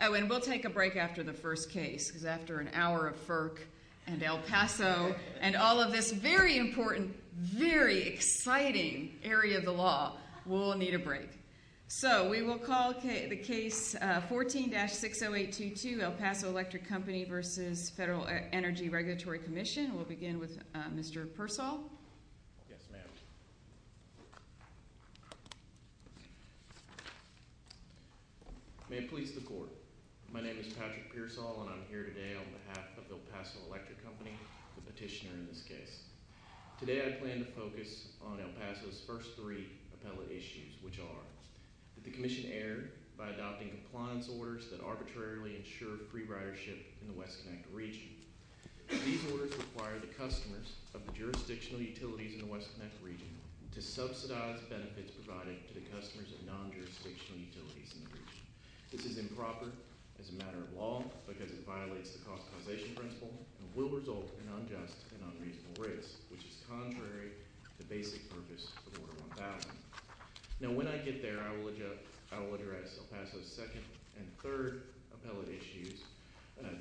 Oh, and we'll take a break after the first case, because after an hour of FERC and El Paso very exciting area of the law, we'll need a break. So we will call the case 14-60822, El Paso Electric Company v. Federal Energy Regulatory Commission. We'll begin with Mr. Pearsall. Yes, ma'am. May it please the court. My name is Patrick Pearsall, and I'm here today on behalf of El Paso Electric Company, the petitioner in this case. Today I plan to focus on El Paso's first three appellate issues, which are that the commission erred by adopting compliance orders that arbitrarily ensure free ridership in the West Connect region. These orders require the customers of the jurisdictional utilities in the West Connect region to subsidize benefits provided to the customers of non-jurisdictional utilities in the region. This is improper as a matter of law, because it violates the cost causation principle and will result in unjust and unreasonable rates, which is contrary to basic purpose of Order 1000. Now when I get there, I will address El Paso's second and third appellate issues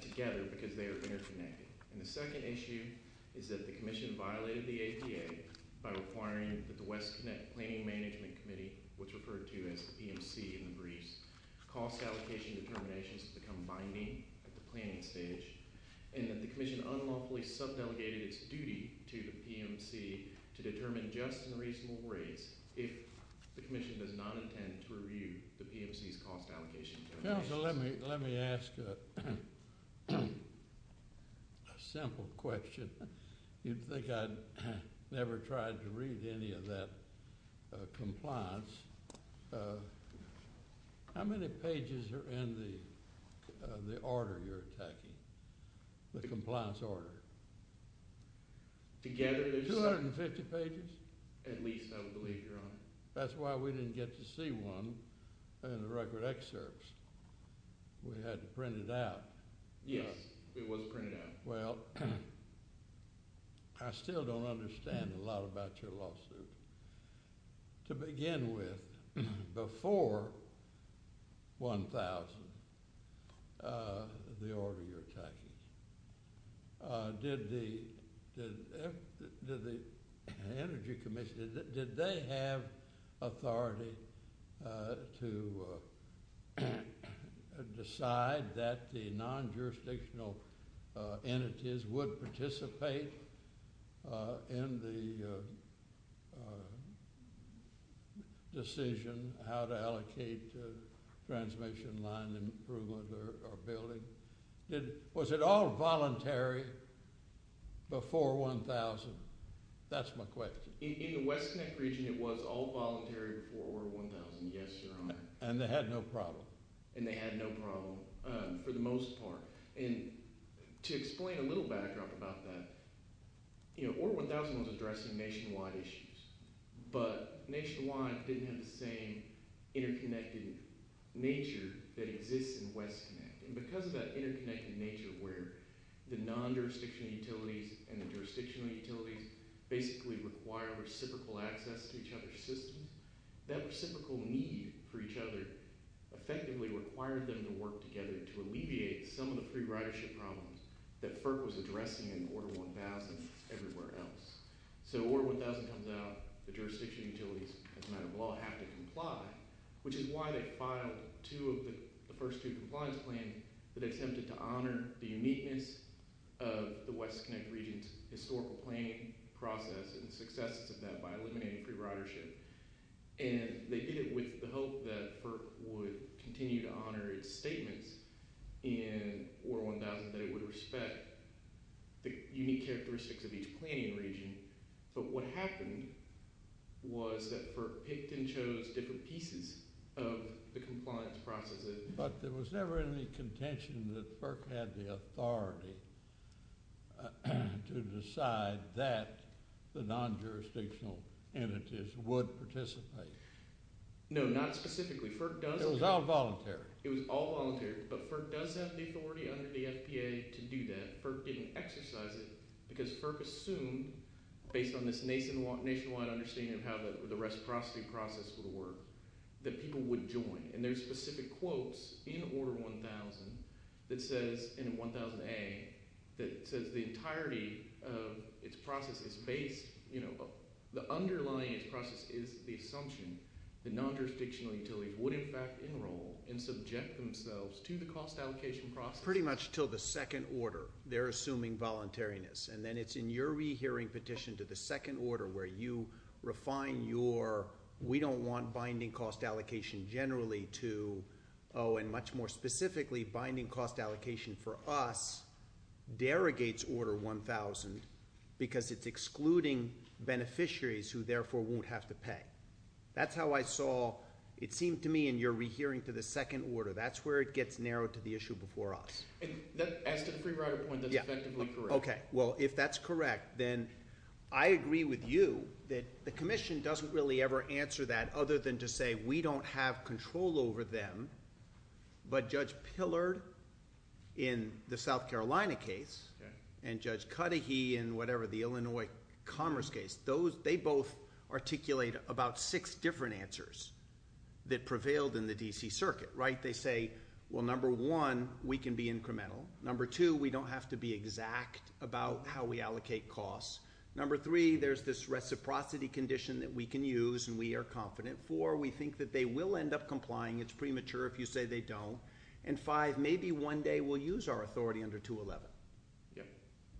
together, because they are interconnected. And the second issue is that the commission violated the APA by requiring that the West Connect Planning Management Committee, which is referred to as the PMC in the briefs, cost allocation determinations to become binding at the planning stage, and that the commission unlawfully sub-delegated its duty to the PMC to determine just and reasonable rates if the commission does not intend to review the PMC's cost allocation determinations. That's why we didn't get to see one in the record excerpts. We had to print it out. Yes, it was printed out. Well, I still don't understand a lot about your lawsuit. To begin with, before 1000, the order you're attacking, did the Energy Commission, did they have authority to decide that the non-jurisdictional entities would participate in the decision how to allocate transmission line improvement or building? Was it all voluntary before 1000? That's my question. In the West Connect region, it was all voluntary before Order 1000, yes, Your Honor. And they had no problem? And they had no problem for the most part. And to explain a little backdrop about that, Order 1000 was addressing nationwide issues, but nationwide didn't have the same interconnected nature that exists in West Connect. And because of that interconnected nature where the non-jurisdictional utilities and the jurisdictional utilities basically require reciprocal access to each other's systems, that reciprocal need for each other effectively required them to work together to alleviate some of the free ridership problems that FERC was addressing in Order 1000 and everywhere else. So Order 1000 comes out, the jurisdictional utilities, as a matter of law, have to comply, which is why they filed the first two compliance plans that attempted to honor the uniqueness of the West Connect region's historical planning process and successes of that by eliminating free ridership. And they did it with the hope that FERC would continue to honor its statements in Order 1000 that it would respect the unique characteristics of each planning region. But what happened was that FERC picked and chose different pieces of the compliance process. But there was never any contention that FERC had the authority to decide that the non-jurisdictional entities would participate. No, not specifically. It was all voluntary. It was all voluntary, but FERC does have the authority under the FPA to do that. FERC didn't exercise it because FERC assumed, based on this nationwide understanding of how the reciprocity process would work, that people would join. And there's specific quotes in Order 1000 that says, in 1000A, that says the entirety of its process is based, the underlying process is the assumption that non-jurisdictional utilities would in fact enroll and subject themselves to the cost allocation process. Pretty much until the second order, they're assuming voluntariness. And then it's in your rehearing petition to the second order where you refine your we don't want binding cost allocation generally to, oh, and much more specifically, binding cost allocation for us derogates Order 1000 because it's excluding beneficiaries who therefore won't have to pay. That's how I saw, it seemed to me, in your rehearing to the second order. That's where it gets narrowed to the issue before us. As to the free rider point, that's effectively correct. Okay, well, if that's correct, then I agree with you that the commission doesn't really ever answer that other than to say we don't have control over them, but Judge Pillard in the South Carolina case and Judge Cudahy in whatever the Illinois Commerce case, they both articulate about six different answers that prevailed in the D.C. Circuit, right? They say, well, number one, we can be incremental. Number two, we don't have to be exact about how we allocate costs. Number three, there's this reciprocity condition that we can use and we are confident. Four, we think that they will end up complying. It's premature if you say they don't. And five, maybe one day we'll use our authority under 211.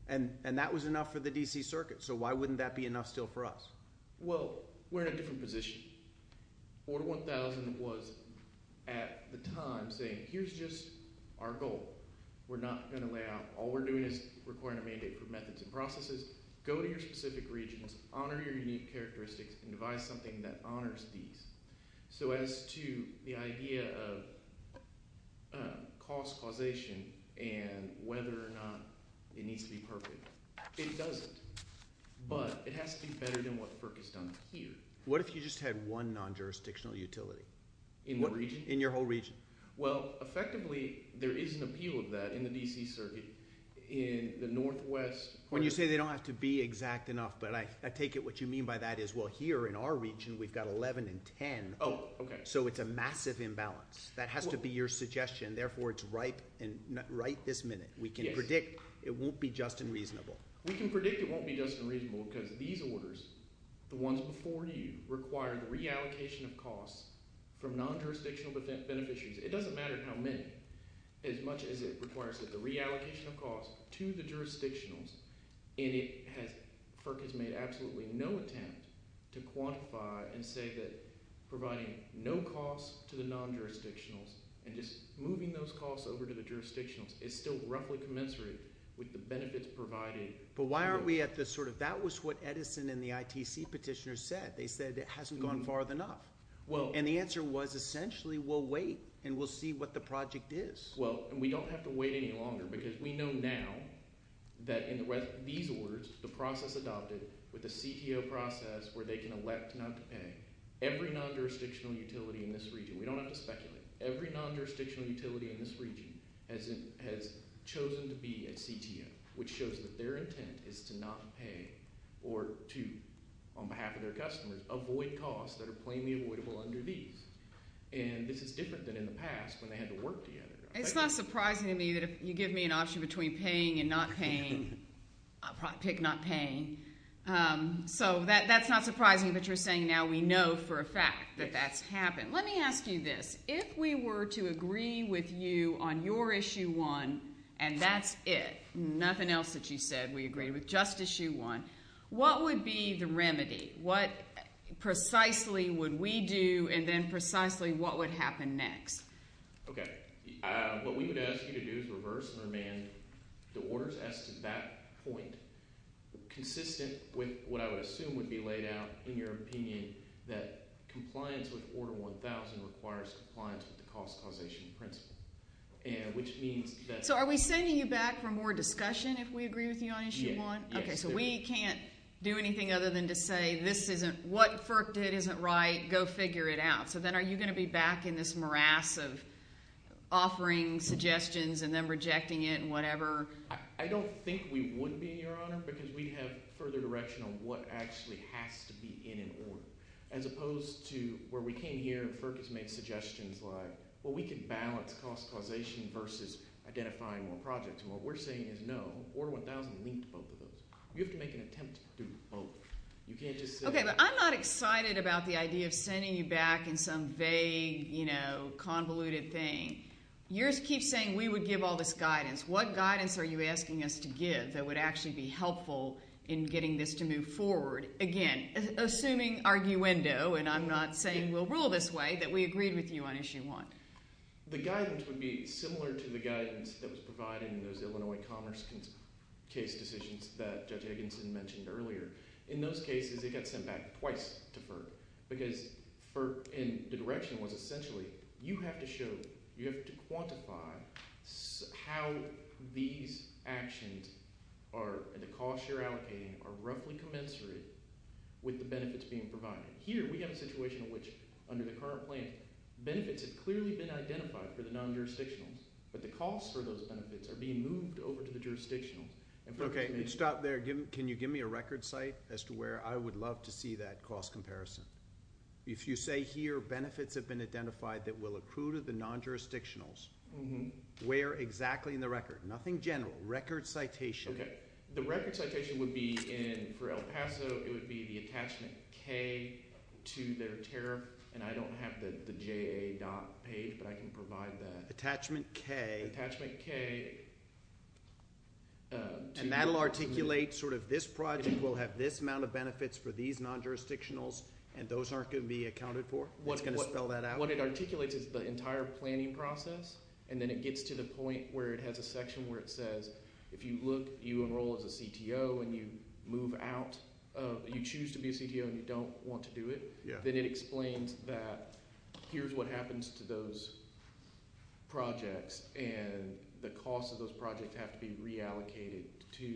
And that was enough for the D.C. Circuit. So why wouldn't that be enough still for us? Well, we're in a different position. Order 1000 was at the time saying here's just our goal. We're not going to lay out. All we're doing is requiring a mandate for methods and processes. Go to your specific regions, honor your unique characteristics, and devise something that honors these. So as to the idea of cost causation and whether or not it needs to be perfect, it doesn't. But it has to be better than what FERC has done here. What if you just had one non-jurisdictional utility? In what region? In your whole region. Well, effectively, there is an appeal of that in the D.C. Circuit in the northwest. When you say they don't have to be exact enough, but I take it what you mean by that is well, here in our region, we've got 11 and 10. Oh, okay. So it's a massive imbalance. That has to be your suggestion. Therefore, it's right this minute. We can predict it won't be just and reasonable. We can predict it won't be just and reasonable because these orders, the ones before you, require the reallocation of costs from non-jurisdictional beneficiaries. It doesn't matter how many. As much as it requires the reallocation of costs to the jurisdictionals, and FERC has made absolutely no attempt to quantify and say that providing no costs to the non-jurisdictionals and just moving those costs over to the jurisdictionals is still roughly commensurate with the benefits provided. But why aren't we at the sort of – that was what Edison and the ITC petitioners said. They said it hasn't gone far enough. And the answer was essentially we'll wait and we'll see what the project is. Well, and we don't have to wait any longer because we know now that in these orders, the process adopted with the CTO process where they can elect not to pay, every non-jurisdictional utility in this region – we don't have to speculate – every non-jurisdictional utility in this region has chosen to be a CTO, which shows that their intent is to not pay or to, on behalf of their customers, avoid costs that are plainly avoidable under these. And this is different than in the past when they had to work together. It's not surprising to me that if you give me an option between paying and not paying, I'll probably pick not paying. So that's not surprising, but you're saying now we know for a fact that that's happened. Let me ask you this. If we were to agree with you on your Issue 1 and that's it, nothing else that you said. We agreed with just Issue 1. What would be the remedy? What precisely would we do and then precisely what would happen next? Okay. What we would ask you to do is reverse and remand the orders as to that point consistent with what I would assume would be laid out in your opinion that compliance with Order 1000 requires compliance with the cost causation principle, which means that… So are we sending you back for more discussion if we agree with you on Issue 1? Okay, so we can't do anything other than to say this isn't – what FERC did isn't right, go figure it out. So then are you going to be back in this morass of offering suggestions and then rejecting it and whatever? I don't think we would be, Your Honor, because we'd have further direction on what actually has to be in an order. As opposed to where we came here and FERC has made suggestions like, well, we can balance cost causation versus identifying more projects. And what we're saying is no. Order 1000 linked both of those. You have to make an attempt to do both. You can't just say… Okay, but I'm not excited about the idea of sending you back in some vague, convoluted thing. You keep saying we would give all this guidance. What guidance are you asking us to give that would actually be helpful in getting this to move forward? Again, assuming arguendo, and I'm not saying we'll rule this way, that we agreed with you on Issue 1. The guidance would be similar to the guidance that was provided in those Illinois Commerce case decisions that Judge Higginson mentioned earlier. In those cases, it got sent back twice to FERC. Because FERC, and the direction was essentially, you have to show, you have to quantify how these actions are, and the costs you're allocating are roughly commensurate with the benefits being provided. Here, we have a situation in which, under the current plan, benefits have clearly been identified for the non-jurisdictional. But the costs for those benefits are being moved over to the jurisdictional. Okay, stop there. Can you give me a record site as to where I would love to see that cost comparison? If you say here, benefits have been identified that will accrue to the non-jurisdictionals, where exactly in the record? Nothing general. Record citation. The record citation would be in, for El Paso, it would be the attachment K to their tariff. And I don't have the JA.page, but I can provide that. Attachment K. And that will articulate, sort of, this project will have this amount of benefits for these non-jurisdictionals, and those aren't going to be accounted for? What's going to spell that out? What it articulates is the entire planning process, and then it gets to the point where it has a section where it says, if you look, you enroll as a CTO, and you move out, you choose to be a CTO and you don't want to do it, then it explains that here's what happens to those projects, and the costs of those projects have to be reallocated to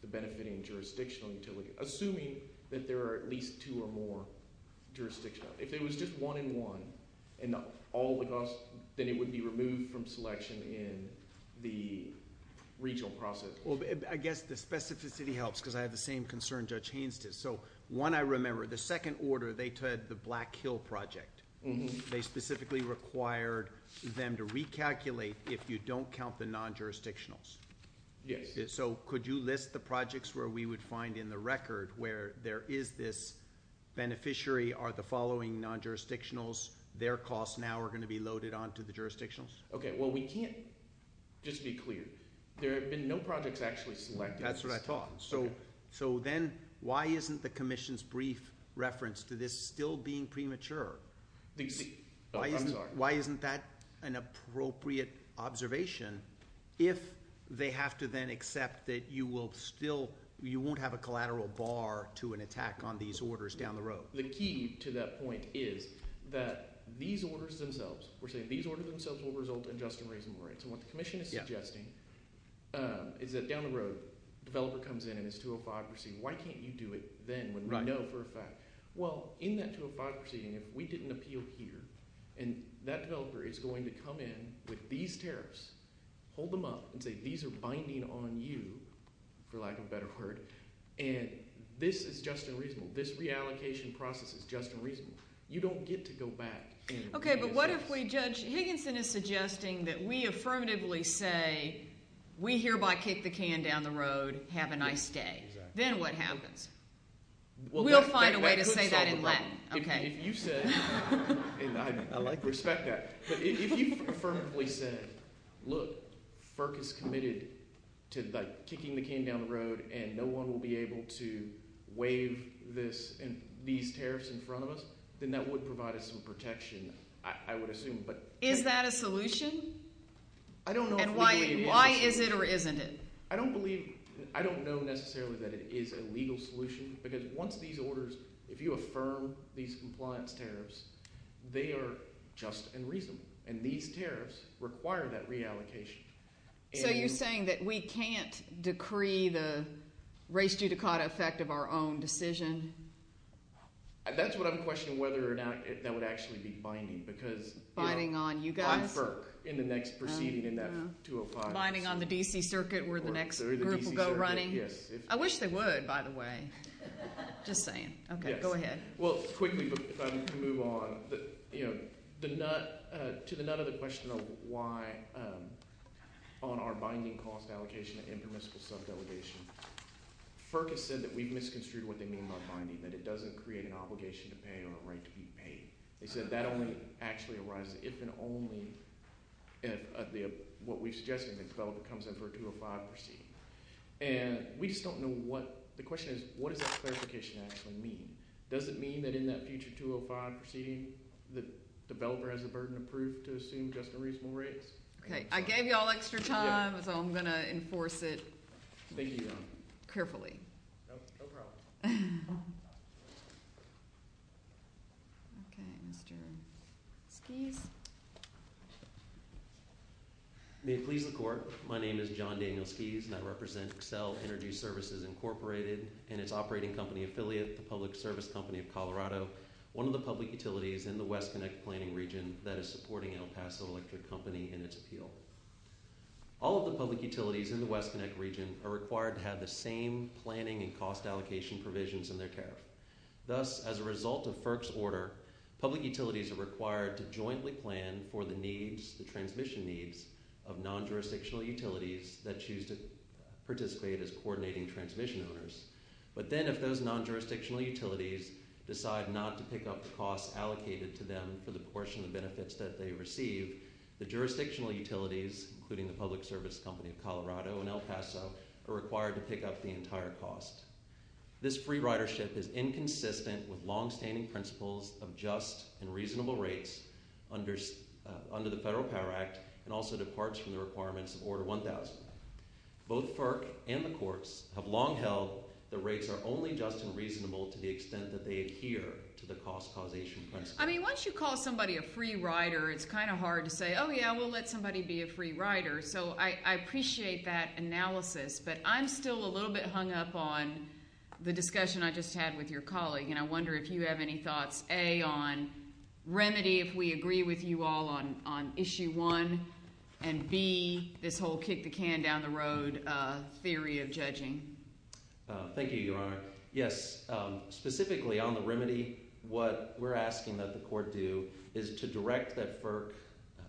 the benefiting jurisdictional utility. Assuming that there are at least two or more jurisdictions. If it was just one and one, then it would be removed from selection in the regional process. I guess the specificity helps, because I have the same concern Judge Haines did. So, one, I remember, the second order, they had the Black Hill project. They specifically required them to recalculate if you don't count the non-jurisdictionals. So, could you list the projects where we would find in the record where there is this beneficiary, are the following non-jurisdictionals, their costs now are going to be loaded onto the jurisdictions? Okay, well, we can't just be clear. There have been no projects actually selected. That's what I thought. So, then, why isn't the Commission's brief reference to this still being premature? I'm sorry. Why isn't that an appropriate observation if they have to then accept that you will still, you won't have a collateral bar to an attack on these orders down the road? The key to that point is that these orders themselves, we're saying these orders themselves will result in just and reasonable rights. So, what the Commission is suggesting is that down the road, a developer comes in and is 205 proceeding. Why can't you do it then when we know for a fact, well, in that 205 proceeding, if we didn't appeal here and that developer is going to come in with these tariffs, hold them up and say these are binding on you, for lack of a better word, and this is just and reasonable, this reallocation process is just and reasonable, you don't get to go back and reassess. Okay, but what if we, Judge Higginson is suggesting that we affirmatively say, we hereby kick the can down the road, have a nice day. Then what happens? We'll find a way to say that in Latin. If you said, and I respect that, but if you affirmatively said, look, FERC is committed to kicking the can down the road and no one will be able to waive these tariffs in front of us, then that would provide us some protection, I would assume. Is that a solution? I don't know if legally it is. And why is it or isn't it? I don't believe, I don't know necessarily that it is a legal solution, because once these orders, if you affirm these compliance tariffs, they are just and reasonable. And these tariffs require that reallocation. So you're saying that we can't decree the res judicata effect of our own decision? That's what I'm questioning, whether or not that would actually be binding. Binding on you guys? On FERC in the next proceeding in that 205. Binding on the D.C. Circuit where the next group will go running? I wish they would, by the way. Just saying. Okay, go ahead. Well, quickly, if I can move on. To the nut of the question of why on our binding cost allocation and permissible subdelegation, FERC has said that we've misconstrued what they mean by binding, that it doesn't create an obligation to pay or a right to be paid. They said that only actually arises if and only if what we've suggested, the developer comes in for a 205 proceeding. And we just don't know what, the question is, what does that clarification actually mean? Does it mean that in that future 205 proceeding, the developer has a burden of proof to assume just a reasonable rate? Okay, I gave you all extra time, so I'm going to enforce it. Thank you. Carefully. No problem. Okay, Mr. Skies. May it please the court. My name is John Daniel Skies, and I represent Accel Energy Services Incorporated and its operating company affiliate, the Public Service Company of Colorado, one of the public utilities in the West Connect planning region that is supporting El Paso Electric Company in its appeal. All of the public utilities in the West Connect region are required to have the same planning and cost allocation provisions in their tariff. Thus, as a result of FERC's order, public utilities are required to jointly plan for the needs, the transmission needs, of non-jurisdictional utilities that choose to participate as coordinating transmission owners. But then if those non-jurisdictional utilities decide not to pick up the costs allocated to them for the portion of benefits that they receive, the jurisdictional utilities, including the Public Service Company of Colorado and El Paso, are required to pick up the entire cost. This free ridership is inconsistent with longstanding principles of just and reasonable rates under the Federal Power Act and also departs from the requirements of Order 1000. Both FERC and the courts have long held that rates are only just and reasonable to the extent that they adhere to the cost causation principle. I mean, once you call somebody a free rider, it's kind of hard to say, oh, yeah, we'll let somebody be a free rider. So I appreciate that analysis, but I'm still a little bit hung up on the discussion I just had with your colleague, and I wonder if you have any thoughts, A, on remedy, if we agree with you all on Issue 1, and B, this whole kick-the-can-down-the-road theory of judging. Thank you, Your Honor. Yes, specifically on the remedy, what we're asking that the court do is to direct that FERC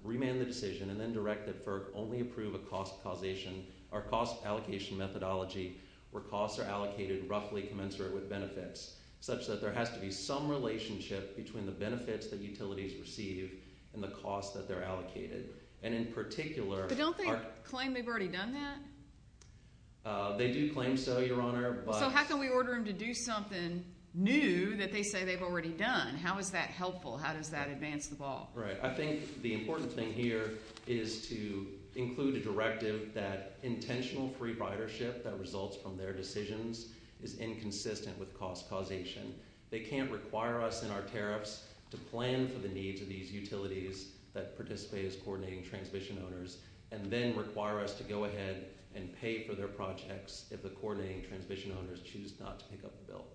remand the decision and then direct that FERC only approve a cost causation or cost allocation methodology where costs are allocated roughly commensurate with benefits, such that there has to be some relationship between the benefits that utilities receive and the costs that they're allocated. And in particular... But don't they claim they've already done that? They do claim so, Your Honor, but... So how can we order them to do something new that they say they've already done? How is that helpful? How does that advance the ball? Right. I think the important thing here is to include a directive that intentional free ridership that results from their decisions is inconsistent with cost causation. They can't require us in our tariffs to plan for the needs of these utilities that participate as coordinating transmission owners and then require us to go ahead and pay for their projects if the coordinating transmission owners choose not to pick up the bill.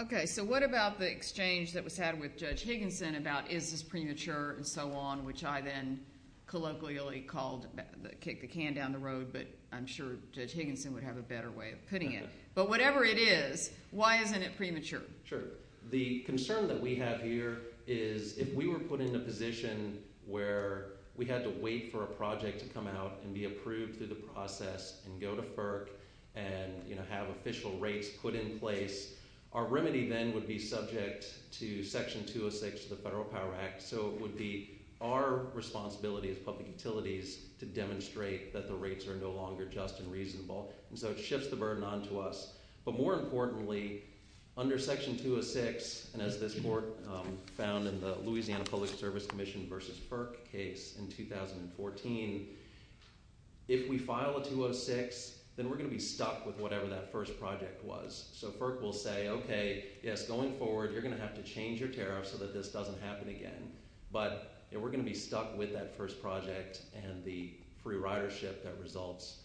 Okay. So what about the exchange that was had with Judge Higginson about is this premature and so on, which I then colloquially called the kick the can down the road, but I'm sure Judge Higginson would have a better way of putting it. But whatever it is, why isn't it premature? Sure. The concern that we have here is if we were put in a position where we had to wait for a project to come out and be approved through the process and go to FERC and have official rates put in place our remedy then would be subject to section 206 of the Federal Power Act. So it would be our responsibility as public utilities to demonstrate that the rates are no longer just and reasonable. And so it shifts the burden onto us. But more importantly, under section 206, and as this court found in the Louisiana Public Service Commission versus FERC case in 2014, if we file a 206, then we're going to be stuck with whatever that first project was. And we'll say, okay, yes, going forward you're going to have to change your tariffs so that this doesn't happen again. But we're going to be stuck with that first project and the free ridership that results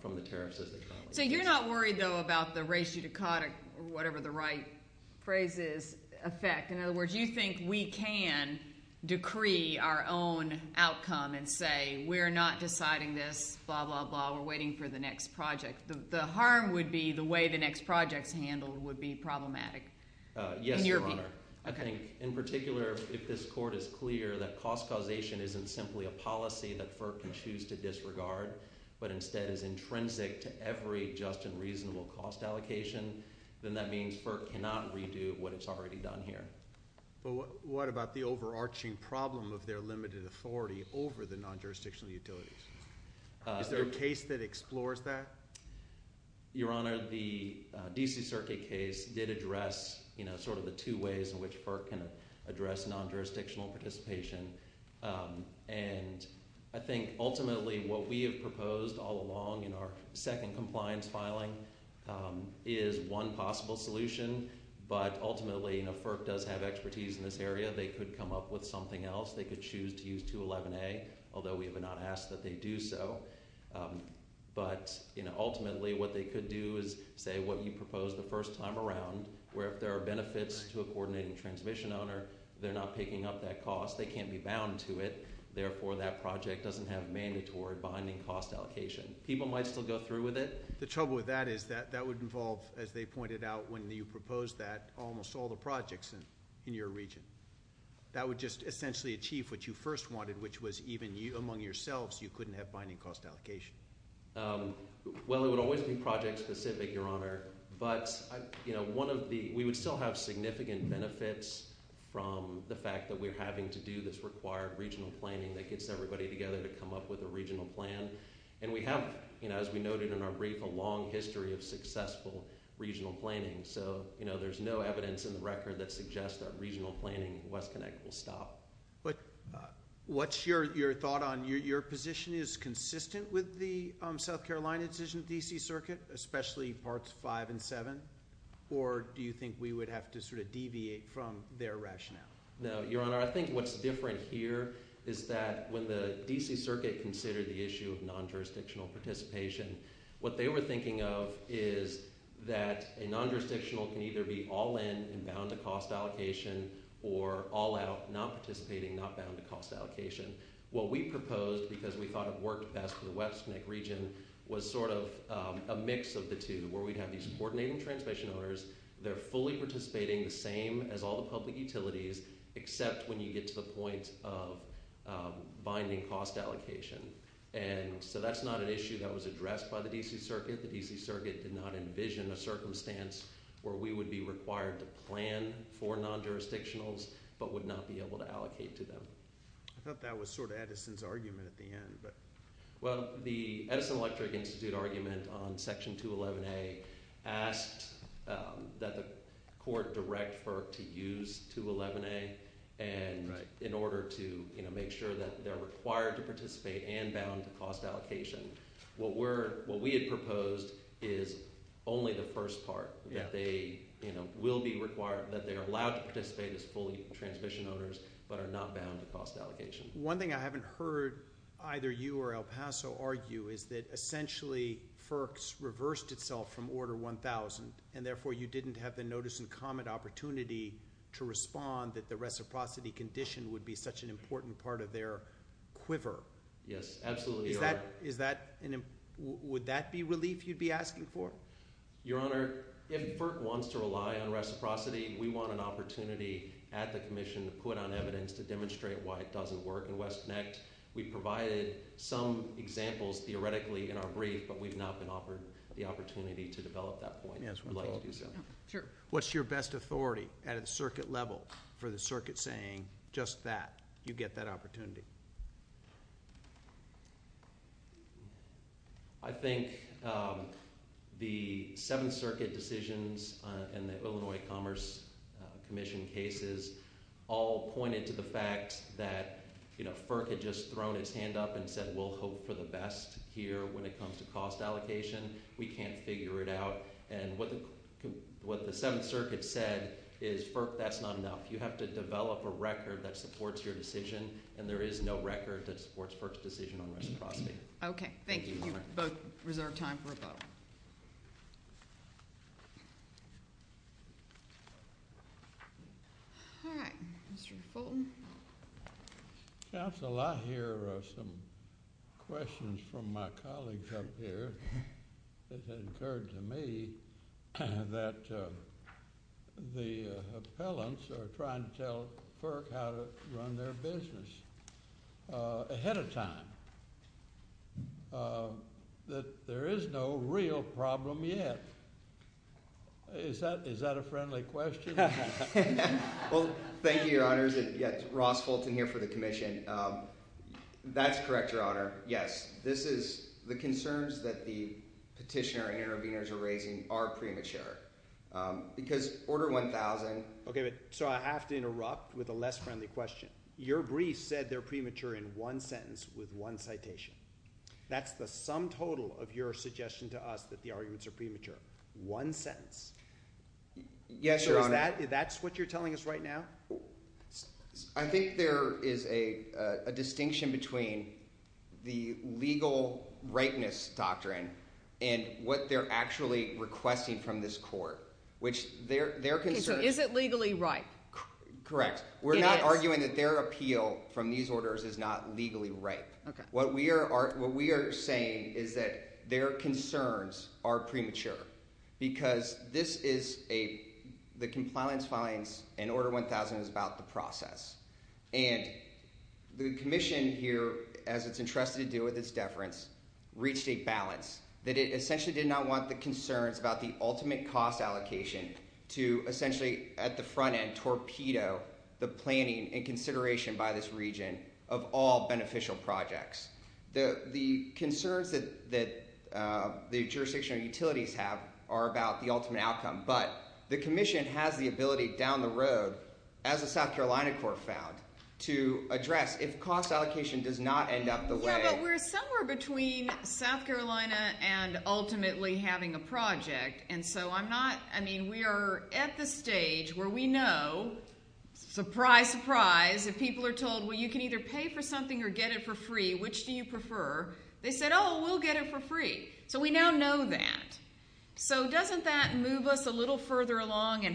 from the tariffs as they come out. So you're not worried, though, about the ratio-dichotic, or whatever the right phrase is, effect. In other words, you think we can decree our own outcome and say we're not deciding this, blah, blah, blah, we're waiting for the next project. And that would be problematic? Yes, Your Honor. I think, in particular, if this court is clear that cost causation isn't simply a policy that FERC can choose to disregard, but instead is intrinsic to every just and reasonable cost allocation, then that means FERC cannot redo what it's already done here. But what about the overarching problem of their limited authority over the non-jurisdictional utilities? Is there a case that explores that? Your Honor, I think that case did address sort of the two ways in which FERC can address non-jurisdictional participation. And I think, ultimately, what we have proposed all along in our second compliance filing is one possible solution. But ultimately, FERC does have expertise in this area. They could come up with something else. They could choose to use 211A, although we have not asked that they do so. But ultimately, what they could do is say that there's a cost around where if there are benefits to a coordinating transmission owner, they're not picking up that cost. They can't be bound to it. Therefore, that project doesn't have mandatory binding cost allocation. People might still go through with it. The trouble with that is that would involve, as they pointed out when you proposed that, almost all the projects in your region. That would just essentially achieve what you first wanted, which was even among yourselves that we would still have significant benefits from the fact that we're having to do this required regional planning that gets everybody together to come up with a regional plan. And we have, as we noted in our brief, a long history of successful regional planning. So there's no evidence in the record that suggests that regional planning at WestConnect will stop. What's your thought on your position is consistent with the South Carolina decision at the D.C. Circuit, or do you think we would have to sort of deviate from their rationale? No, Your Honor. I think what's different here is that when the D.C. Circuit considered the issue of non-jurisdictional participation, what they were thinking of is that a non-jurisdictional can either be all in and bound to cost allocation or all out, not participating, not bound to cost allocation. What we proposed, because we thought it worked best for the D.C. Circuit, they're fully participating the same as all the public utilities except when you get to the point of binding cost allocation. And so that's not an issue that was addressed by the D.C. Circuit. The D.C. Circuit did not envision a circumstance where we would be required to plan for non-jurisdictionals but would not be able to allocate to them. I thought that was sort of Edison's argument at the end. Well, the Edison Electric Institute argument on Section 211A was that the court direct FERC to use 211A in order to make sure that they're required to participate and bound to cost allocation. What we had proposed is only the first part, that they will be required, that they are allowed to participate as fully transmission owners but are not bound to cost allocation. One thing I haven't heard either you or El Paso argue is that essentially FERC's reversed itself from Order 1000 because they didn't have the notice and comment opportunity to respond that the reciprocity condition would be such an important part of their quiver. Yes, absolutely. Would that be relief you'd be asking for? Your Honor, if FERC wants to rely on reciprocity, we want an opportunity at the Commission to put on evidence to demonstrate why it doesn't work. In West Neck, we provided some examples theoretically in our brief but what's your best authority at a circuit level for the circuit saying just that, you get that opportunity? I think the Seventh Circuit decisions and the Illinois Commerce Commission cases all pointed to the fact that FERC had just thrown its hand up and said we'll hope for the best here when it comes to cost allocation. We can't figure it out and what the Seventh Circuit said is FERC, that's not enough. You have to develop a record that supports your decision and there is no record that supports FERC's decision on reciprocity. Okay, thank you. You both reserve time for a vote. All right, Mr. Fulton. Counsel, I hear some questions from my colleagues up here that had occurred to me that the appellants are trying to tell FERC how to run their business ahead of time, that there is no real problem yet. Is that a friendly question? Well, thank you, Your Honors. Ross Fulton here for the commission. That's correct, Your Honor. Yes, this is the concerns that the petitioner and interveners are raising are premature because Order 1000... Okay, so I have to interrupt with a less friendly question. Your brief said they're premature in one sentence with one citation. That's the sum total of your suggestion to us that the arguments are premature. One sentence. Yes, Your Honor. That's what you're telling us right now? I think there is a distinction between the legal rightness of this doctrine and what they're actually requesting from this court, which their concerns... Okay, so is it legally ripe? Correct. We're not arguing that their appeal from these orders is not legally ripe. What we are saying is that their concerns are premature because this is a... the compliance filings in Order 1000 is about the process. And the commission here, as it's entrusted to do with its deference, reached a balance that it essentially did not want the concerns about the ultimate cost allocation to essentially at the front end torpedo the planning and consideration by this region of all beneficial projects. The concerns that the jurisdictional utilities have are about the ultimate outcome. But the commission has the ability down the road, as the South Carolina court found, to address if cost allocation does not end up the way... Yeah, but we're somewhere between South Carolina and ultimately having a project. And so I'm not... I mean, we are at the stage where we know, surprise, surprise, if people are told, well, you can either pay for something or get it for free, which do you prefer? They said, oh, we'll get it for free. So we now know that. He doesn't want to have another problem and he doesn't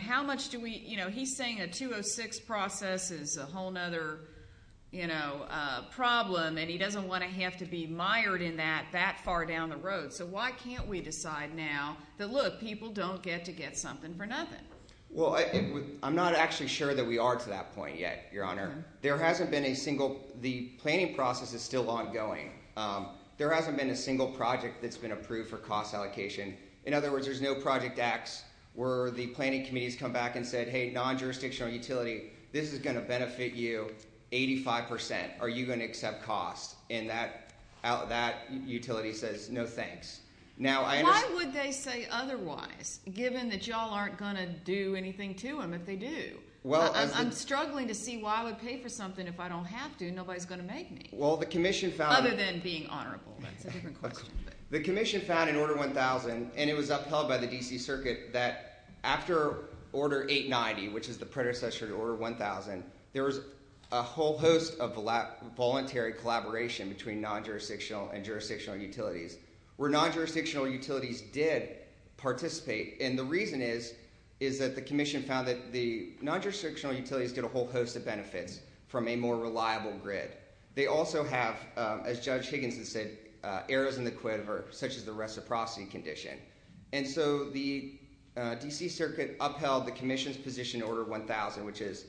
want to have to be mired in that that far down the road. So why can't we decide now that, look, people don't get to get something for nothing? Well, I'm not actually sure that we are to that point yet, Your Honor. There hasn't been a single... The planning process is still ongoing. There hasn't been a single project that's been approved for cost allocation. In other words, if I say to you, 85 percent, are you going to accept cost? And that utility says, no thanks. Why would they say otherwise, given that y'all aren't going to do anything to them if they do? I'm struggling to see why I would pay for something if I don't have to and nobody's going to make me. Other than being honorable. That's a different question. The Commission found in Order 1000 and it was upheld by the D.C. Circuit that after Order 890, which is the predecessor to Order 1000, there was a whole host of voluntary collaboration between non-jurisdictional and jurisdictional utilities. Where non-jurisdictional utilities did participate, and the reason is that the Commission found that the non-jurisdictional utilities did a whole host of benefits from a more reliable grid. They also have, as Judge Higginson said, errors in the grid such as the reciprocity condition. And so the D.C. Circuit upheld the Commission's position in Order 1000 which is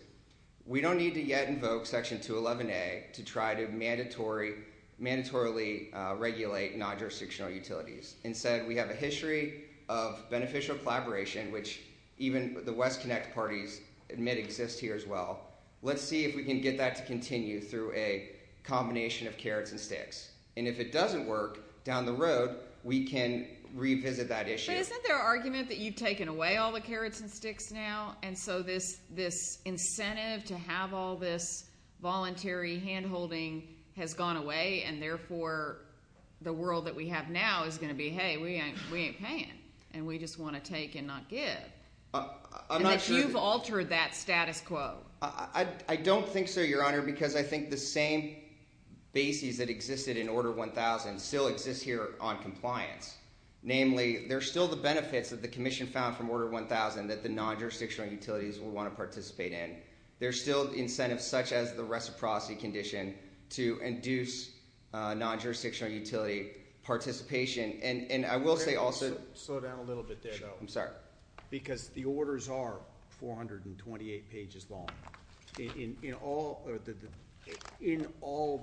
we don't need to yet invoke Section 211A to try to mandatorily regulate non-jurisdictional utilities. Instead, we have a history of beneficial collaboration which even the West Connect parties admit exists here as well. So we have a combination of carrots and sticks. And if it doesn't work down the road, we can revisit that issue. But isn't there an argument that you've taken away all the carrots and sticks now and so this incentive to have all this voluntary handholding has gone away and therefore the world that we have now is going to be hey, we ain't paying and we just want to take and not give. And that you've altered that status quo. I don't think so, Your Honor, because I think the same basis that existed in Order 1000 still exists here on compliance. Namely, there's still the benefits that the Commission found from Order 1000 that the non-jurisdictional utilities will want to participate in. There's still incentives such as the reciprocity condition to induce non-jurisdictional utility participation. And I will say also... Slow down a little bit there, though. I'm sorry. Because the orders are 428 pages long. In all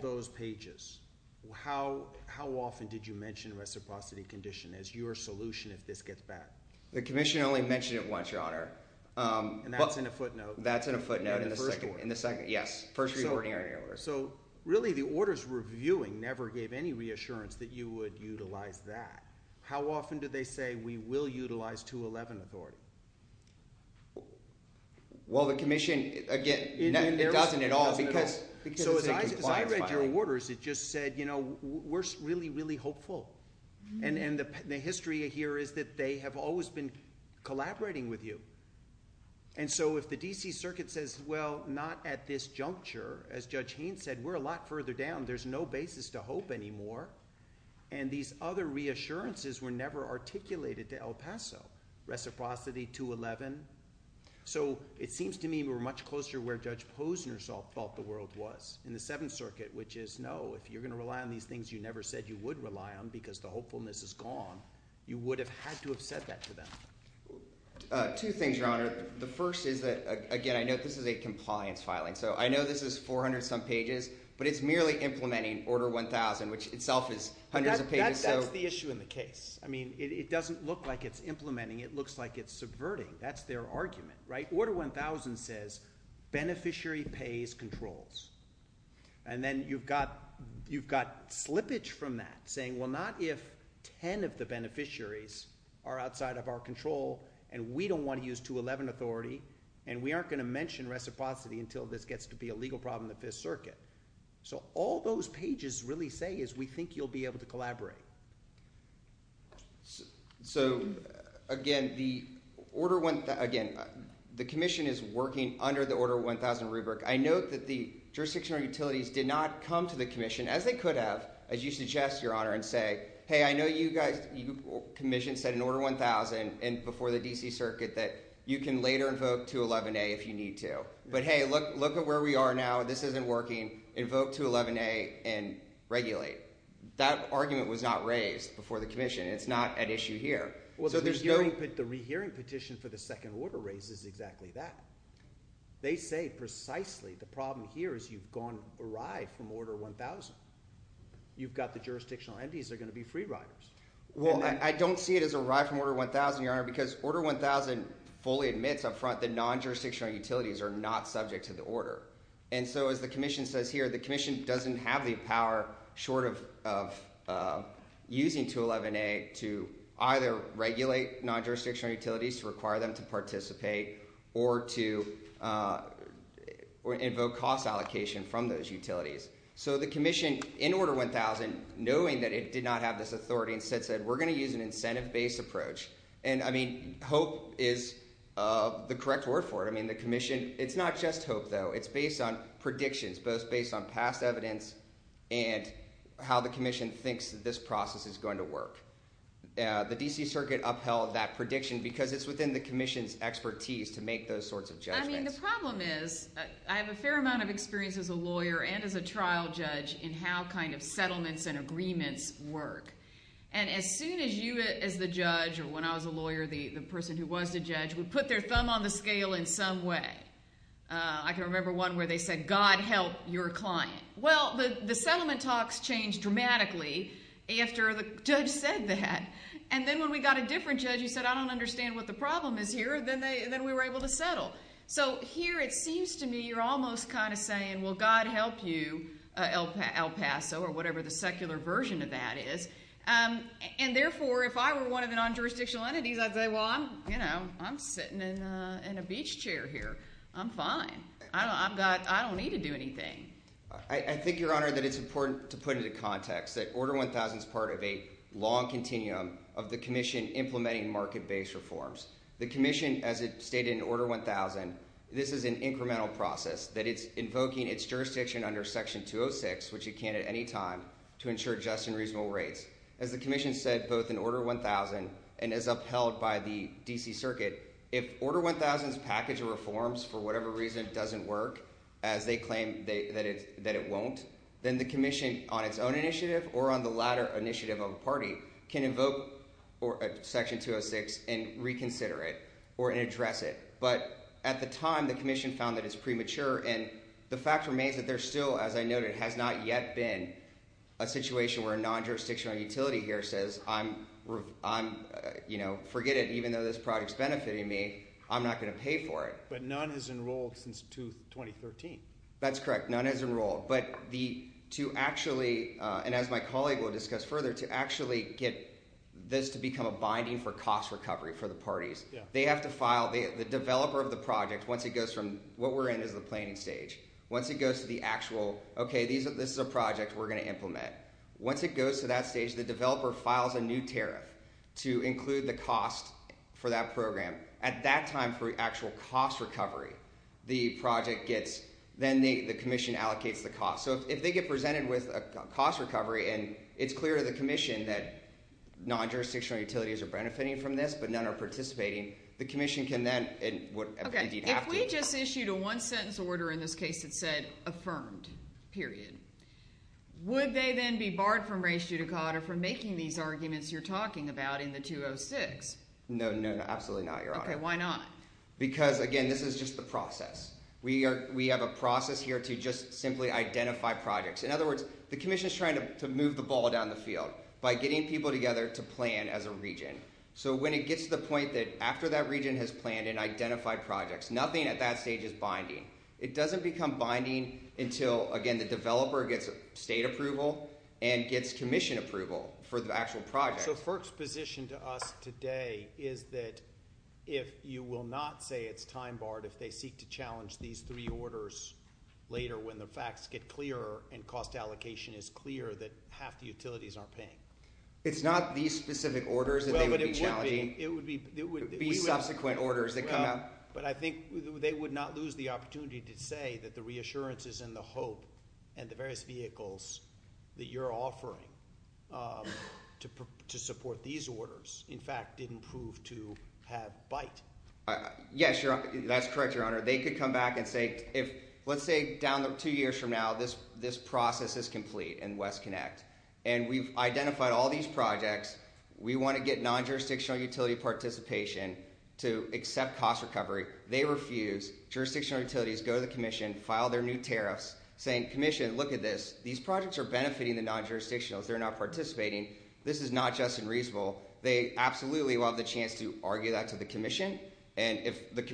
those pages, how often did you mention reciprocity condition as your solution if this gets back? The Commission only mentioned it once, Your Honor. And that's in a footnote? That's in a footnote in the first order. Yes, first reordering order. So really the orders we're reviewing are based on that. How often do they say we will utilize 211 authority? Well, the Commission, again, it doesn't at all. So as I read your orders, it just said, you know, we're really, really hopeful. And the history here is that they have always been collaborating with you. And so if the D.C. Circuit says, well, not at this juncture, as Judge Haynes said, we're a lot further down. But those reassurances were never articulated to El Paso. Reciprocity, 211. So it seems to me we're much closer to where Judge Posner thought the world was in the Seventh Circuit, which is, no, if you're going to rely on these things you never said you would rely on because the hopefulness is gone, you would have had to have said that to them. Two things, Your Honor. The first is that, again, I know this is a compliance filing. So I know this is 400-some pages, but this isn't the case. I mean, it doesn't look like it's implementing. It looks like it's subverting. That's their argument, right? Order 1000 says, beneficiary pays controls. And then you've got slippage from that saying, well, not if 10 of the beneficiaries are outside of our control and we don't want to use 211 authority and we aren't going to mention reciprocity until this gets to be a legal problem in the Fifth Circuit. So all those pages really say is we think you'll be able to collaborate. So, again, the commission is working under the Order 1000 rubric. I note that the jurisdictional utilities did not come to the commission, as they could have, as you suggest, Your Honor, and say, hey, I know you guys, your commission said in Order 1000 and before the D.C. Circuit that you can later invoke 211A if you need to. But, hey, look at where we are now. This isn't working. Invoke 211A and regulate. That argument was not raised before the commission. It's not at issue here. Well, the rehearing petition for the second order raises exactly that. They say precisely the problem here is you've gone awry from Order 1000. You've got the jurisdictional entities that are going to be free riders. Well, I don't see it as awry from Order 1000, Your Honor, because Order 1000 fully admits up front that non-jurisdictional utilities are not subject to the order. But what it says here, the commission doesn't have the power short of using 211A to either regulate non-jurisdictional utilities, to require them to participate, or to invoke cost allocation from those utilities. So the commission, in Order 1000, knowing that it did not have this authority, instead said we're going to use an incentive-based approach. And, I mean, hope is the correct word for it. I mean, the commission, it's not just hope, though. It's based on predictions, it's based on past evidence, and how the commission thinks this process is going to work. The D.C. Circuit upheld that prediction because it's within the commission's expertise to make those sorts of judgments. I mean, the problem is, I have a fair amount of experience as a lawyer and as a trial judge in how kind of settlements and agreements work. And as soon as you, as the judge, or when I was a lawyer, the person who was the judge, would put their thumb on the scale in some way, I can remember one where they said, well, you're a client. Well, the settlement talks changed dramatically after the judge said that. And then when we got a different judge who said, I don't understand what the problem is here, then we were able to settle. So here, it seems to me, you're almost kind of saying, well, God help you, El Paso, or whatever the secular version of that is. And therefore, if I were one of the non-jurisdictional entities, I'd say, well, you know, I'm sitting in a beach chair here. I'm fine. I think, Your Honor, that it's important to put into context that Order 1000 is part of a long continuum of the Commission implementing market-based reforms. The Commission, as it stated in Order 1000, this is an incremental process, that it's invoking its jurisdiction under Section 206, which it can at any time, to ensure just and reasonable rates. As the Commission said both in Order 1000 and as upheld by the D.C. Circuit, if Order 1000's package of reforms, for whatever reason, doesn't work, as they claim that it won't, then the Commission, on its own initiative or on the latter initiative of a party, can invoke Section 206 and reconsider it or address it. But at the time, the Commission found that it's premature, and the fact remains that there still, as I noted, has not yet been a situation where a non-jurisdictional utility here says, I'm, you know, forget it. Even though this project's benefiting me, I'm not going to pay for it. I'm not going to pay for Section 2013. That's correct. None has enrolled. But to actually, and as my colleague will discuss further, to actually get this to become a binding for cost recovery for the parties, they have to file, the developer of the project, once it goes from, what we're in is the planning stage. Once it goes to the actual, okay, this is a project we're going to implement. Once it goes to that stage, the developer files a new tariff for this, then the Commission allocates the cost. So if they get presented with a cost recovery, and it's clear to the Commission that non-jurisdictional utilities are benefiting from this, but none are participating, the Commission can then, and would have to. Okay, if we just issued a one-sentence order in this case that said, affirmed, period, would they then be barred from race judicata from making these arguments you're talking about in the 206? We have a process here to just simply identify projects. In other words, the Commission's trying to move the ball down the field by getting people together to plan as a region. So when it gets to the point that after that region has planned and identified projects, nothing at that stage is binding. It doesn't become binding until, again, the developer gets state approval and gets Commission approval for the actual project. So FERC's position to us today is that if you will not say it's time-barred, that you will not say it's time-barred until a few years later when the facts get clearer and cost allocation is clear that half the utilities aren't paying. It's not these specific orders that they would be challenging? It would be subsequent orders that come out. But I think they would not lose the opportunity to say that the reassurances and the hope and the various vehicles that you're offering to support these orders, in fact, didn't prove to have bite. Let's say down two years from now this process is complete in WestConnect. And we've identified all these projects. We want to get non-jurisdictional utility participation to accept cost recovery. They refuse. Jurisdictional utilities go to the Commission, file their new tariffs, saying, Commission, look at this. These projects are benefiting the non-jurisdictionals. They're not participating. This is not just and reasonable. They absolutely will have the chance to argue that to the Commission. And if that's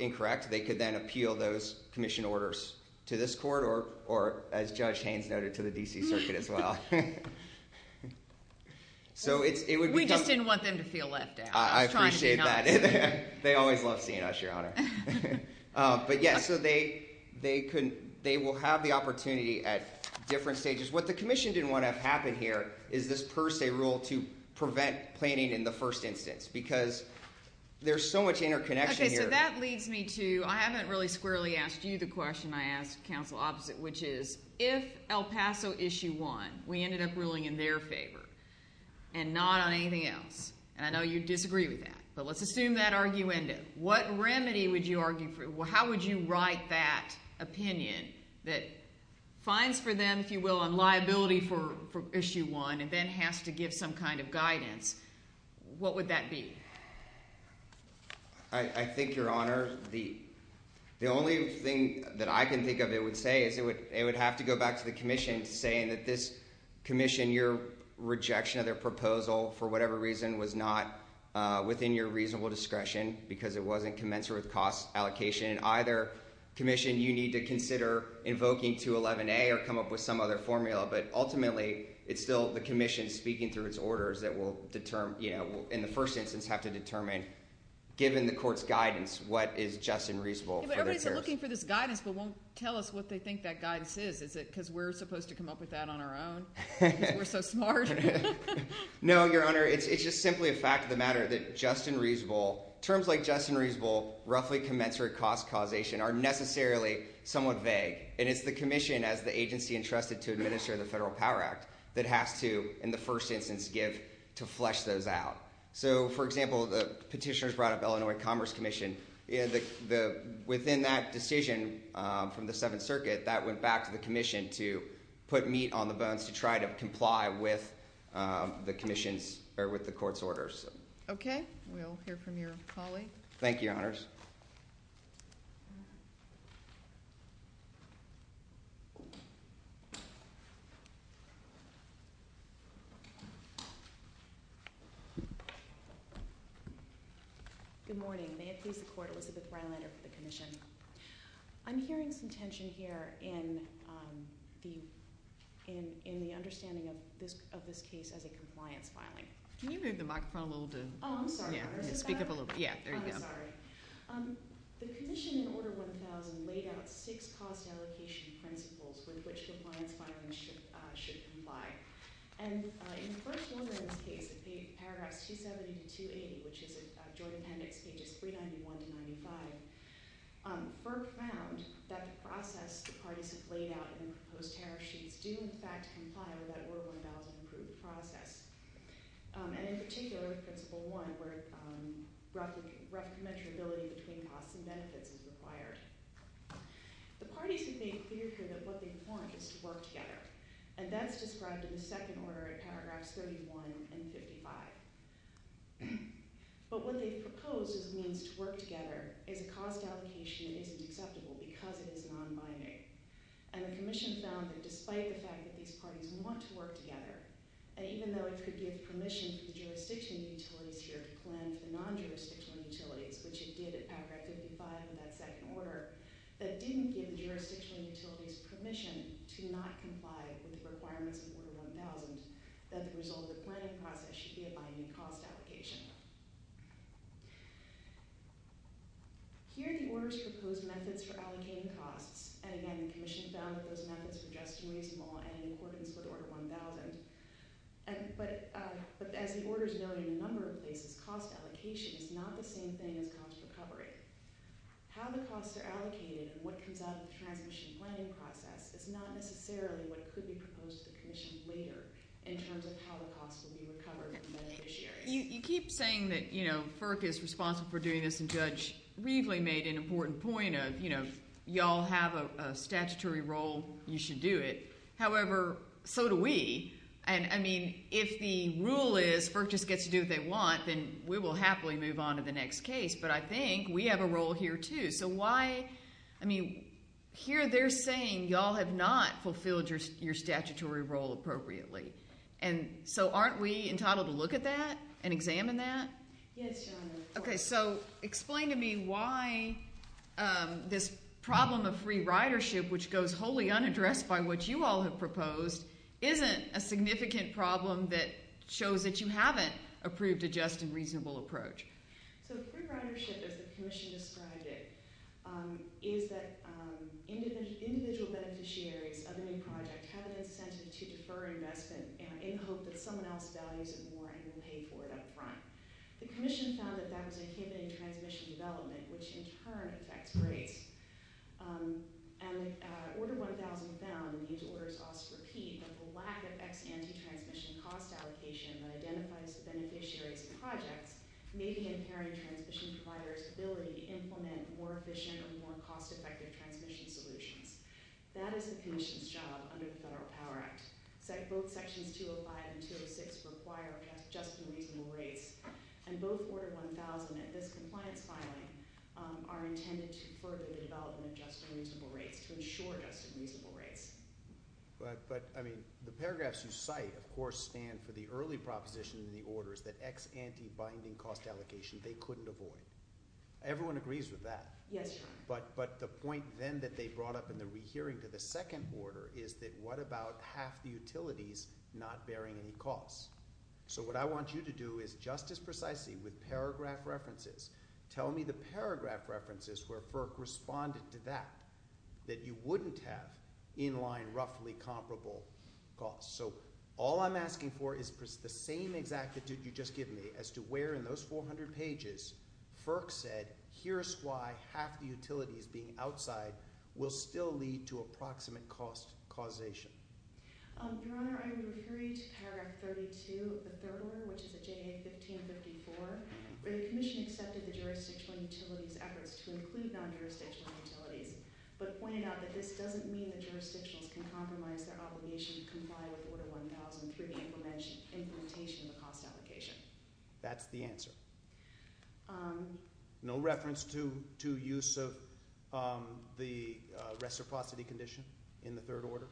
incorrect, they could then appeal those Commission orders to this court or, as Judge Haynes noted, to the D.C. Circuit as well. We just didn't want them to feel left out. I appreciate that. They always love seeing us, Your Honor. But yes, they will have the opportunity at different stages. What the Commission didn't want to have happen here is this per se rule to prevent planning in the first instance because there's so much interconnection here. I think we need to I haven't really squarely asked you the question I asked counsel opposite, which is if El Paso Issue 1, we ended up ruling in their favor and not on anything else, and I know you disagree with that, but let's assume that argument. What remedy would you argue for? How would you write that opinion that fines for them, if you will, and liability for Issue 1 and then has to give some kind of guidance? What would that be? I think, Your Honor, the only thing that I can think of it would say is it would have to go back to the Commission saying that this Commission, your rejection of their proposal for whatever reason was not within your reasonable discretion because it wasn't commensurate with cost allocation and either Commission, you need to consider invoking 211A or come up with some other formula. But ultimately, it's still the Commission speaking through its orders that will, in the first instance, have to determine, given the Court's guidance, what is just and reasonable. Everybody's looking for this guidance but won't tell us what they think that guidance is. Is it because we're supposed to come up with that on our own because we're so smart? No, Your Honor. It's just simply a fact of the matter that just and reasonable, terms like just and reasonable, roughly commensurate cost causation are necessarily somewhat vague, and it's the Commission that has the authority to flesh those out. So, for example, the petitioners brought up Illinois Commerce Commission. Within that decision from the Seventh Circuit, that went back to the Commission to put meat on the bones to try to comply with the Commission's or with the Court's orders. Okay. We'll hear from your colleague. Thank you, Your Honors. Good morning. May it please the Court, Elizabeth Rylander for the Commission. I'm hearing some tension here in the understanding of this case as a compliance filing. Can you move the microphone a little bit? Oh, I'm sorry. Speak up a little bit. Yeah, there you go. I'm sorry. The Commission in Order 1000 laid out six cost allocation principles with which compliance filing should comply. And in the first one in this case, in paragraphs 270 to 280, which is a joint appendix pages 391 to 95, FERC found that the process the parties have laid out in the proposed tariff sheets do in fact comply with that Order 1000 approved process. And in particular, principle one, where recommendability between costs and benefits is required. And that's described in the second order in paragraphs 31 and 55. But what they've proposed as a means to work together is a cost allocation that isn't acceptable because it is non-binding. And the Commission found that despite the fact that these parties want to work together, even though it could give permission for the jurisdictional utilities here to plan for the non-jurisdictional utilities, which it did in paragraph 55 in that second order, the Commission did not comply with the requirements of Order 1000 that the result of the planning process should be a binding cost allocation. Here are the Order's proposed methods for allocating costs. And again, the Commission found that those methods were just too reasonable and in accordance with Order 1000. But as the Order's noted in a number of places, cost allocation is not the same thing as cost recovery. How the costs are allocated is not necessarily what could be proposed to the Commission later in terms of how the costs will be recovered from beneficiaries. You keep saying that, you know, FERC is responsible for doing this, and Judge Reveley made an important point of, you know, y'all have a statutory role, you should do it. However, so do we. And, I mean, if the rule is FERC just gets to do what they want, then we will happily move on to the next case. But I think we have a role here, too. So why, I mean, here they're saying y'all have not fulfilled your statutory role appropriately. And so aren't we entitled to look at that and examine that? Yes, Your Honor. Okay, so explain to me why this problem of free ridership, which goes wholly unaddressed by what you all have proposed, isn't a significant problem that shows that you haven't approved a just and reasonable approach. So free ridership, as the Commission described it, is that individual beneficiaries of a new project have an incentive to defer investment in the hope that someone else values it more and will pay for it up front. The Commission found that that was a given in transmission development, which in turn affects rates. And Order 1000 found that these orders also repeat that the lack of ex-antitransmission cost allocation that identifies the beneficiaries' projects and the ex-antitransmission providers' ability to implement more efficient or more cost-effective transmission solutions. That is the Commission's job under the Federal Power Act. Both Sections 205 and 206 require just and reasonable rates. And both Order 1000 and this compliance filing are intended to further the development of just and reasonable rates to ensure just and reasonable rates. But, I mean, the paragraphs you cite, of course, stand for the early proposition that we shouldn't avoid. Everyone agrees with that. But the point, then, that they brought up in the rehearing to the second order is that what about half the utilities not bearing any costs? So what I want you to do is just as precisely with paragraph references, tell me the paragraph references where FERC responded to that that you wouldn't have in-line roughly comparable costs. So all I'm asking for is FERC said here's why half the utilities being outside will still lead to approximate cost causation. Your Honor, I would refer you to paragraph 32 of the third order which is at JA 1554 where the Commission accepted the jurisdictional utilities efforts to include non-jurisdictional utilities but pointed out that this doesn't mean that jurisdictions can compromise their obligation to comply with Order 1000 through the implementation of a cost application. No reference to use of the reciprocity condition in the third order?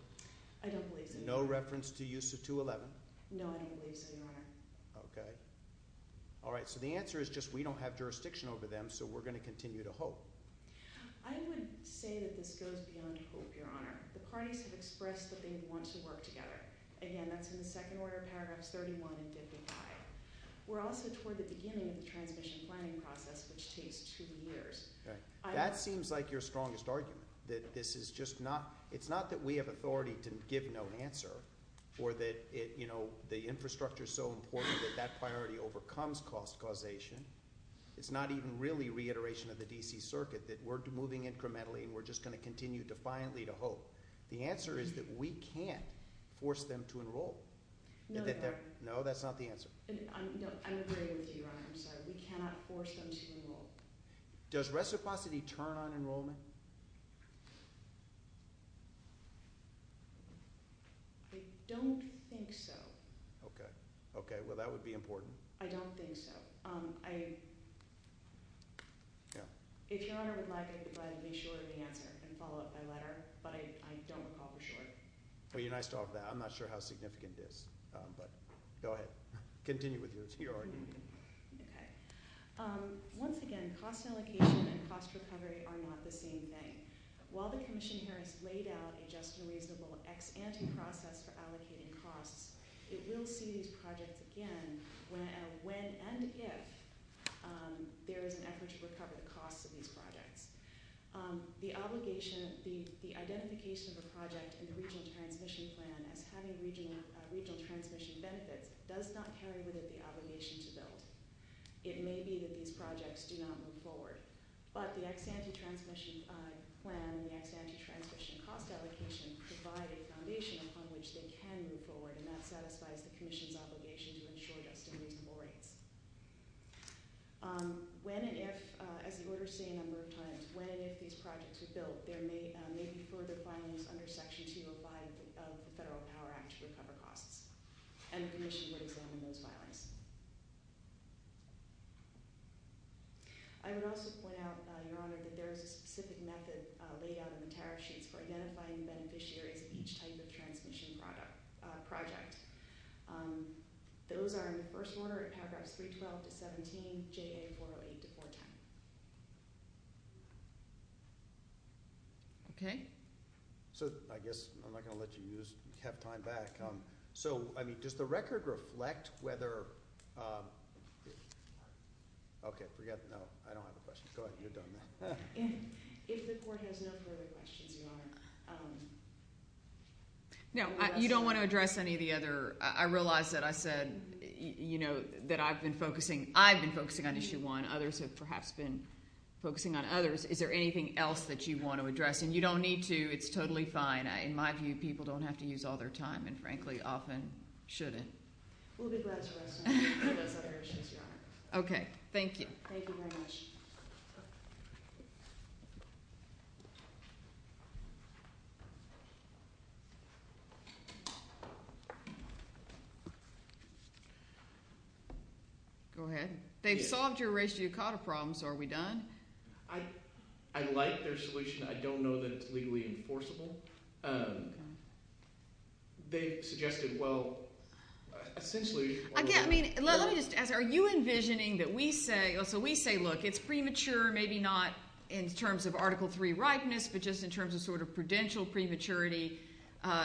I don't believe so, Your Honor. No reference to use of 211? No, I don't believe so, Your Honor. Okay. All right. So the answer is just we don't have jurisdiction over them so we're going to continue to hope. I would say that this goes beyond hope, Your Honor. The parties have expressed that they want to work together. It's a long process which takes two years. That seems like your strongest argument that this is just not, it's not that we have authority to give no answer or that the infrastructure is so important that that priority overcomes cost causation. It's not even really reiteration of the D.C. Circuit that we're moving incrementally defiantly to hope. The answer is that we can't force them to enroll. Does reciprocity turn on enrollment? I don't think so. Okay. Okay. Well, that would be important. I don't think so. If Your Honor would like, I would like to be short of the answer and follow up by letter but I don't recall for sure. Well, you're nice to offer that. I'm not sure how significant it is but go ahead. Continue with your argument. Okay. Once again, cost allocation and cost recovery are not the same thing. While the commission here has laid out a just and reasonable ex ante process for allocating costs, it will see these projects again when and if there is an effort to recover the costs of these projects. The obligation, the identification of a project in the regional transmission plan as having regional transmission benefits does not carry with it the obligation to build. It may be that these projects do not move forward but the ex ante transmission plan and the ex ante transmission cost allocation provide a foundation upon which they can move forward and that satisfies the commission's obligation to ensure just and reasonable rates. When and if, as the order say a number of times, when and if these projects are built, there may be further filings under section 205 regarding those filings. I would also point out, Your Honor, that there is a specific method laid out in the tariff sheets for identifying beneficiaries of each type of transmission project. Those are in the first order paragraphs 312 to 17, JA 408 to 410. Okay. So I guess I'm not going to let you have time back. So, I mean, does the record reflect whether, okay, forget, no, I don't have a question. Go ahead, you're done. If the court has no further questions, Your Honor. No, you don't want to address any of the other, I realize that I said, you know, that I've been focusing, I've been focusing on issue one. Others have perhaps been focusing on others. Is there anything else that you want to address? And you don't need to. I typically often shouldn't. We'll be glad to address those other issues, Your Honor. Okay. Thank you. Thank you very much. Go ahead. They've solved your racial yukata problems. Are we done? I like their solution. I don't know that it's legally enforceable. They suggested, well, essentially, I mean, let me just ask, are you envisioning that we say, so we say, look, it's premature, maybe not in terms of Article 3 ripeness, but just in terms of sort of prudential prematurity.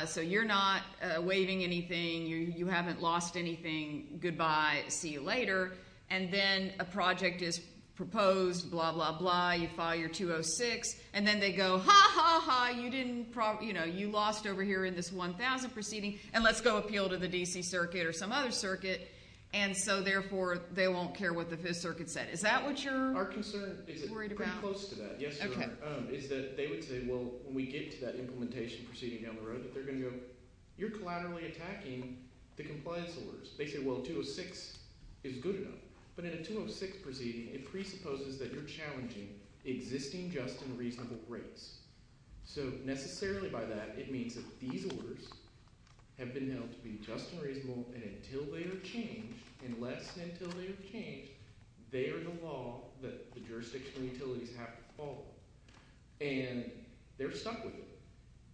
So you're not waiving anything. You haven't lost anything. Goodbye. See you later. And then a project is proposed. Blah, blah, blah. You file your 206. And then they go, ha, ha, ha. You didn't, you know, you lost over here in this 1000 proceeding. And let's go appeal to the D.C. Circuit or some other circuit. And so, therefore, they won't care what the Fifth Circuit said. Is that what you're worried about? Our concern is pretty close to that. Yes, Your Honor. Is that they would say, well, when we get to that implementation proceeding down the road, that they're going to go, you're collaterally attacking the compliance orders. They say, well, 206 is good enough. But in a 206 proceeding, it presupposes that you're challenging existing just and reasonable rates. So, necessarily by that, it means that these orders have been held to be just and reasonable and until they are changed, unless and until they are changed, they are the law that the jurisdictions and utilities have to follow. And they're stuck with it.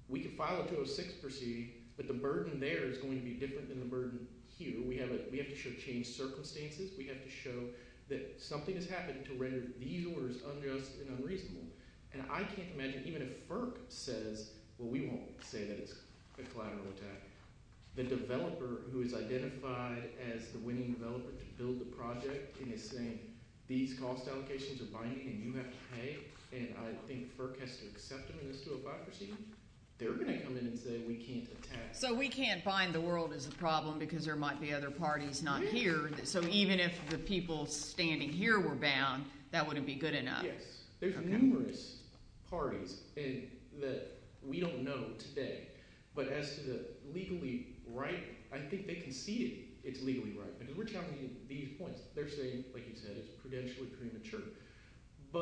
We could file a 206 proceeding, but the burden there is going to be different than the burden here. We have to show changed circumstances. We have to show that something has happened to render these orders unjust and unreasonable. And I can't imagine, even if FERC says, well, we won't say that it's a collateral attack. The developer who is identified as the winning developer to build the project and is saying, these cost allocations are binding and you have to pay and I think FERC has to accept them in this 205 proceeding, they're going to come in and say we can't attack. So, we can't bind the world as a problem because there might be other parties not here. So, even if the people standing here were bound, that wouldn't be good enough. Yes. There's numerous parties that we don't know today. But as to the legally right, I think they can see it's legally right. Because we're talking about these points. They're saying, like you said, it's prudentially premature.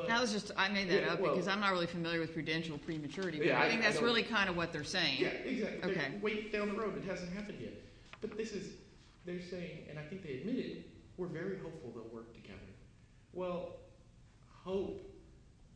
That was just, I made that up because I'm not really familiar with prudential prematurity. But I think that's really kind of what they're saying. Yeah, exactly. They're way down the road. It hasn't happened yet. But this is, they're saying, and I think they admitted, we're very hopeful they'll work together. Well, hope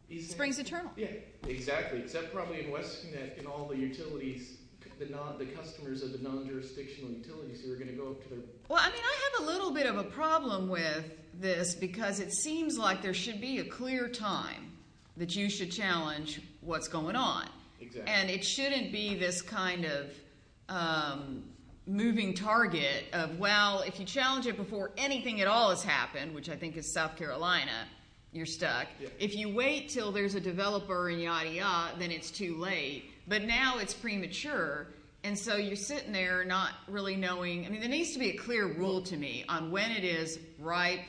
is... Spring's eternal. Yeah, exactly. Except probably in West Connecticut and all the utilities, the customers of the non-jurisdictional utilities who are going to go up to their... Well, I mean, I have a little bit of a problem with this because it seems like there should be a clear time that you should challenge what's going on. Exactly. And it shouldn't be this kind of moving target of, well, if you challenge it before anything at all has happened, which I think is South Carolina, you're stuck. Yeah. If you wait till there's a developer and yada yada, then it's too late. But now it's premature and so you're sitting there not really knowing. I mean, there needs to be a clear rule to me on when it is ripe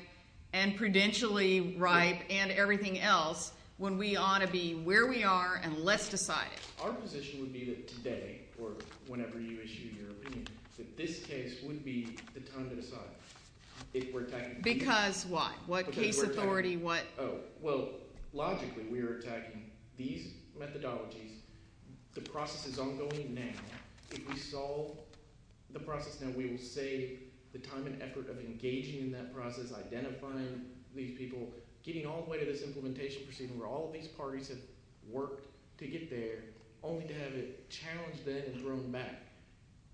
and prudentially ripe and everything else when we ought to be where we are and let's decide it. Our position would be that today or whenever you issue your opinion that this case would be the time to decide if we're attacking... Because what? What case authority? What... Oh, well, logically, we are attacking these methodologies. The process is ongoing now. If we solve the process now, we will save the time and effort of engaging in that process, identifying these people, getting all the way to this implementation proceeding where all of these parties have worked to get there only to have it challenged then and thrown back.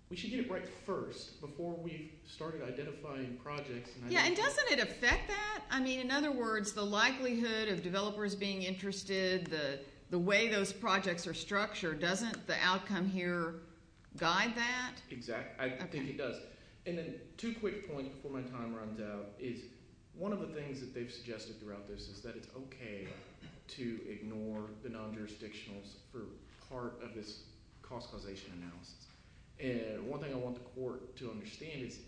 We should get it right first before we've started identifying projects. Yeah, and doesn't it affect that? I mean, in other words, the likelihood of developers being interested, the way those projects are structured, doesn't the outcome here guide that? Exactly. I think it does. And then, two quick points before my time runs out is one of the things that they've suggested throughout this process is that it's okay to ignore the non-jurisdictionals for part of this cost causation analysis. And one thing I want the court to understand is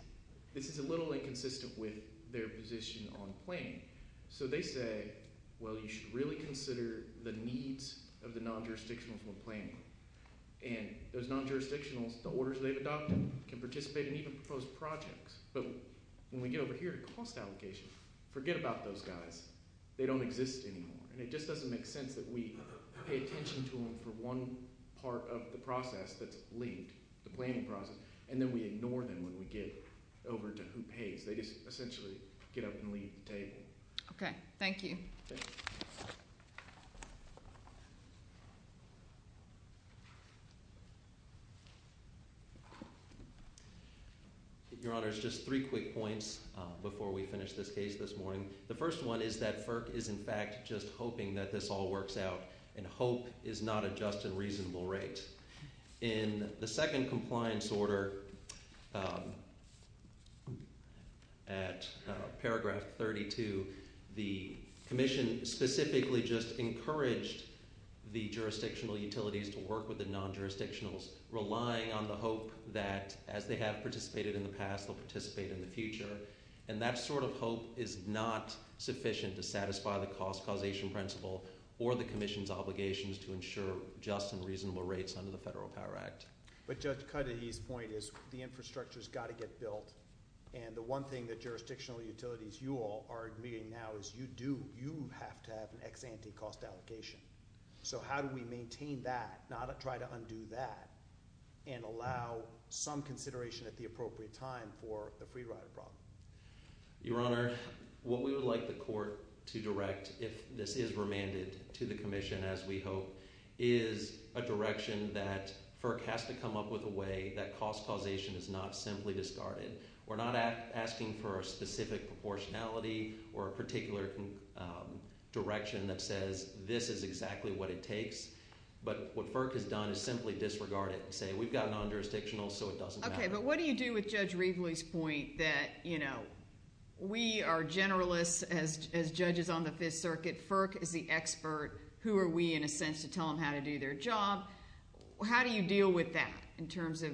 this is a little inconsistent with their position on planning. So they say, well, you should really consider the needs of the non-jurisdictionals when planning. And those non-jurisdictionals, the orders they've adopted can participate in even proposed projects. But when we get over here to cost allocation, forget about those guys. They don't exist anymore. And it just doesn't make sense that we pay attention to them for one part of the process that's leaked, the planning process, and then we ignore them when we get over to who pays. They just essentially get up and leave the table. Okay. Thank you. Your Honor, just three quick points before we finish this case this morning. The first one is that FERC is in fact just hoping that this all works out. And hope is not a just and reasonable rate. In the second compliance order at paragraph 32, the commission specifically just encouraged the jurisdictional utilities to work with the non-jurisdictionals, relying on the hope that as they have participated in the past, they'll participate in the future. And that sort of hope is not sufficient to satisfy the cost causation principle or the commission's obligations to ensure just and reasonable rates under the Federal Power Act. But Judge Cuddy's point is the infrastructure has got to get built. And the one thing that jurisdictional utilities, you all, are admitting now is you do, you have to have an ex-ante cost allocation. So how do we maintain that, not try to undo that, and allow some consideration at the appropriate time for the free rider problem? Your Honor, what we would like the court to direct, if this is remanded to the commission, as we hope, is a direction that FERC has to come up with a way that cost causation is not simply discarded. We're not asking for a specific proportionality or a particular direction that says this is exactly what it takes. But what FERC has done is simply disregard it non-jurisdictional, so it doesn't matter. Okay, but what do you do with Judge Reveley's point that, you know, we are generalists as judges on the Fifth Circuit. FERC is the expert. Who are we, in a sense, to tell them how to do their job? How do you deal with that in terms of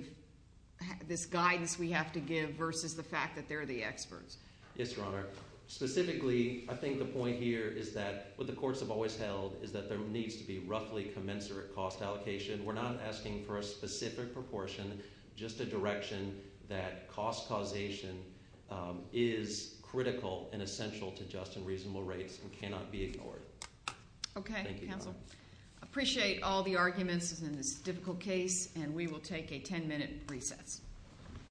this guidance we have to give versus the fact that they're the experts? Yes, Your Honor. Specifically, I think the point here is that what the courts have always held is that there needs to be roughly commensurate cost allocation. We're not asking for a specific proportion, just a direction that cost causation is critical and essential to just and reasonable rates and cannot be ignored. Okay. Thank you, Your Honor. Appreciate all the arguments in this difficult case and we will take a ten-minute recess.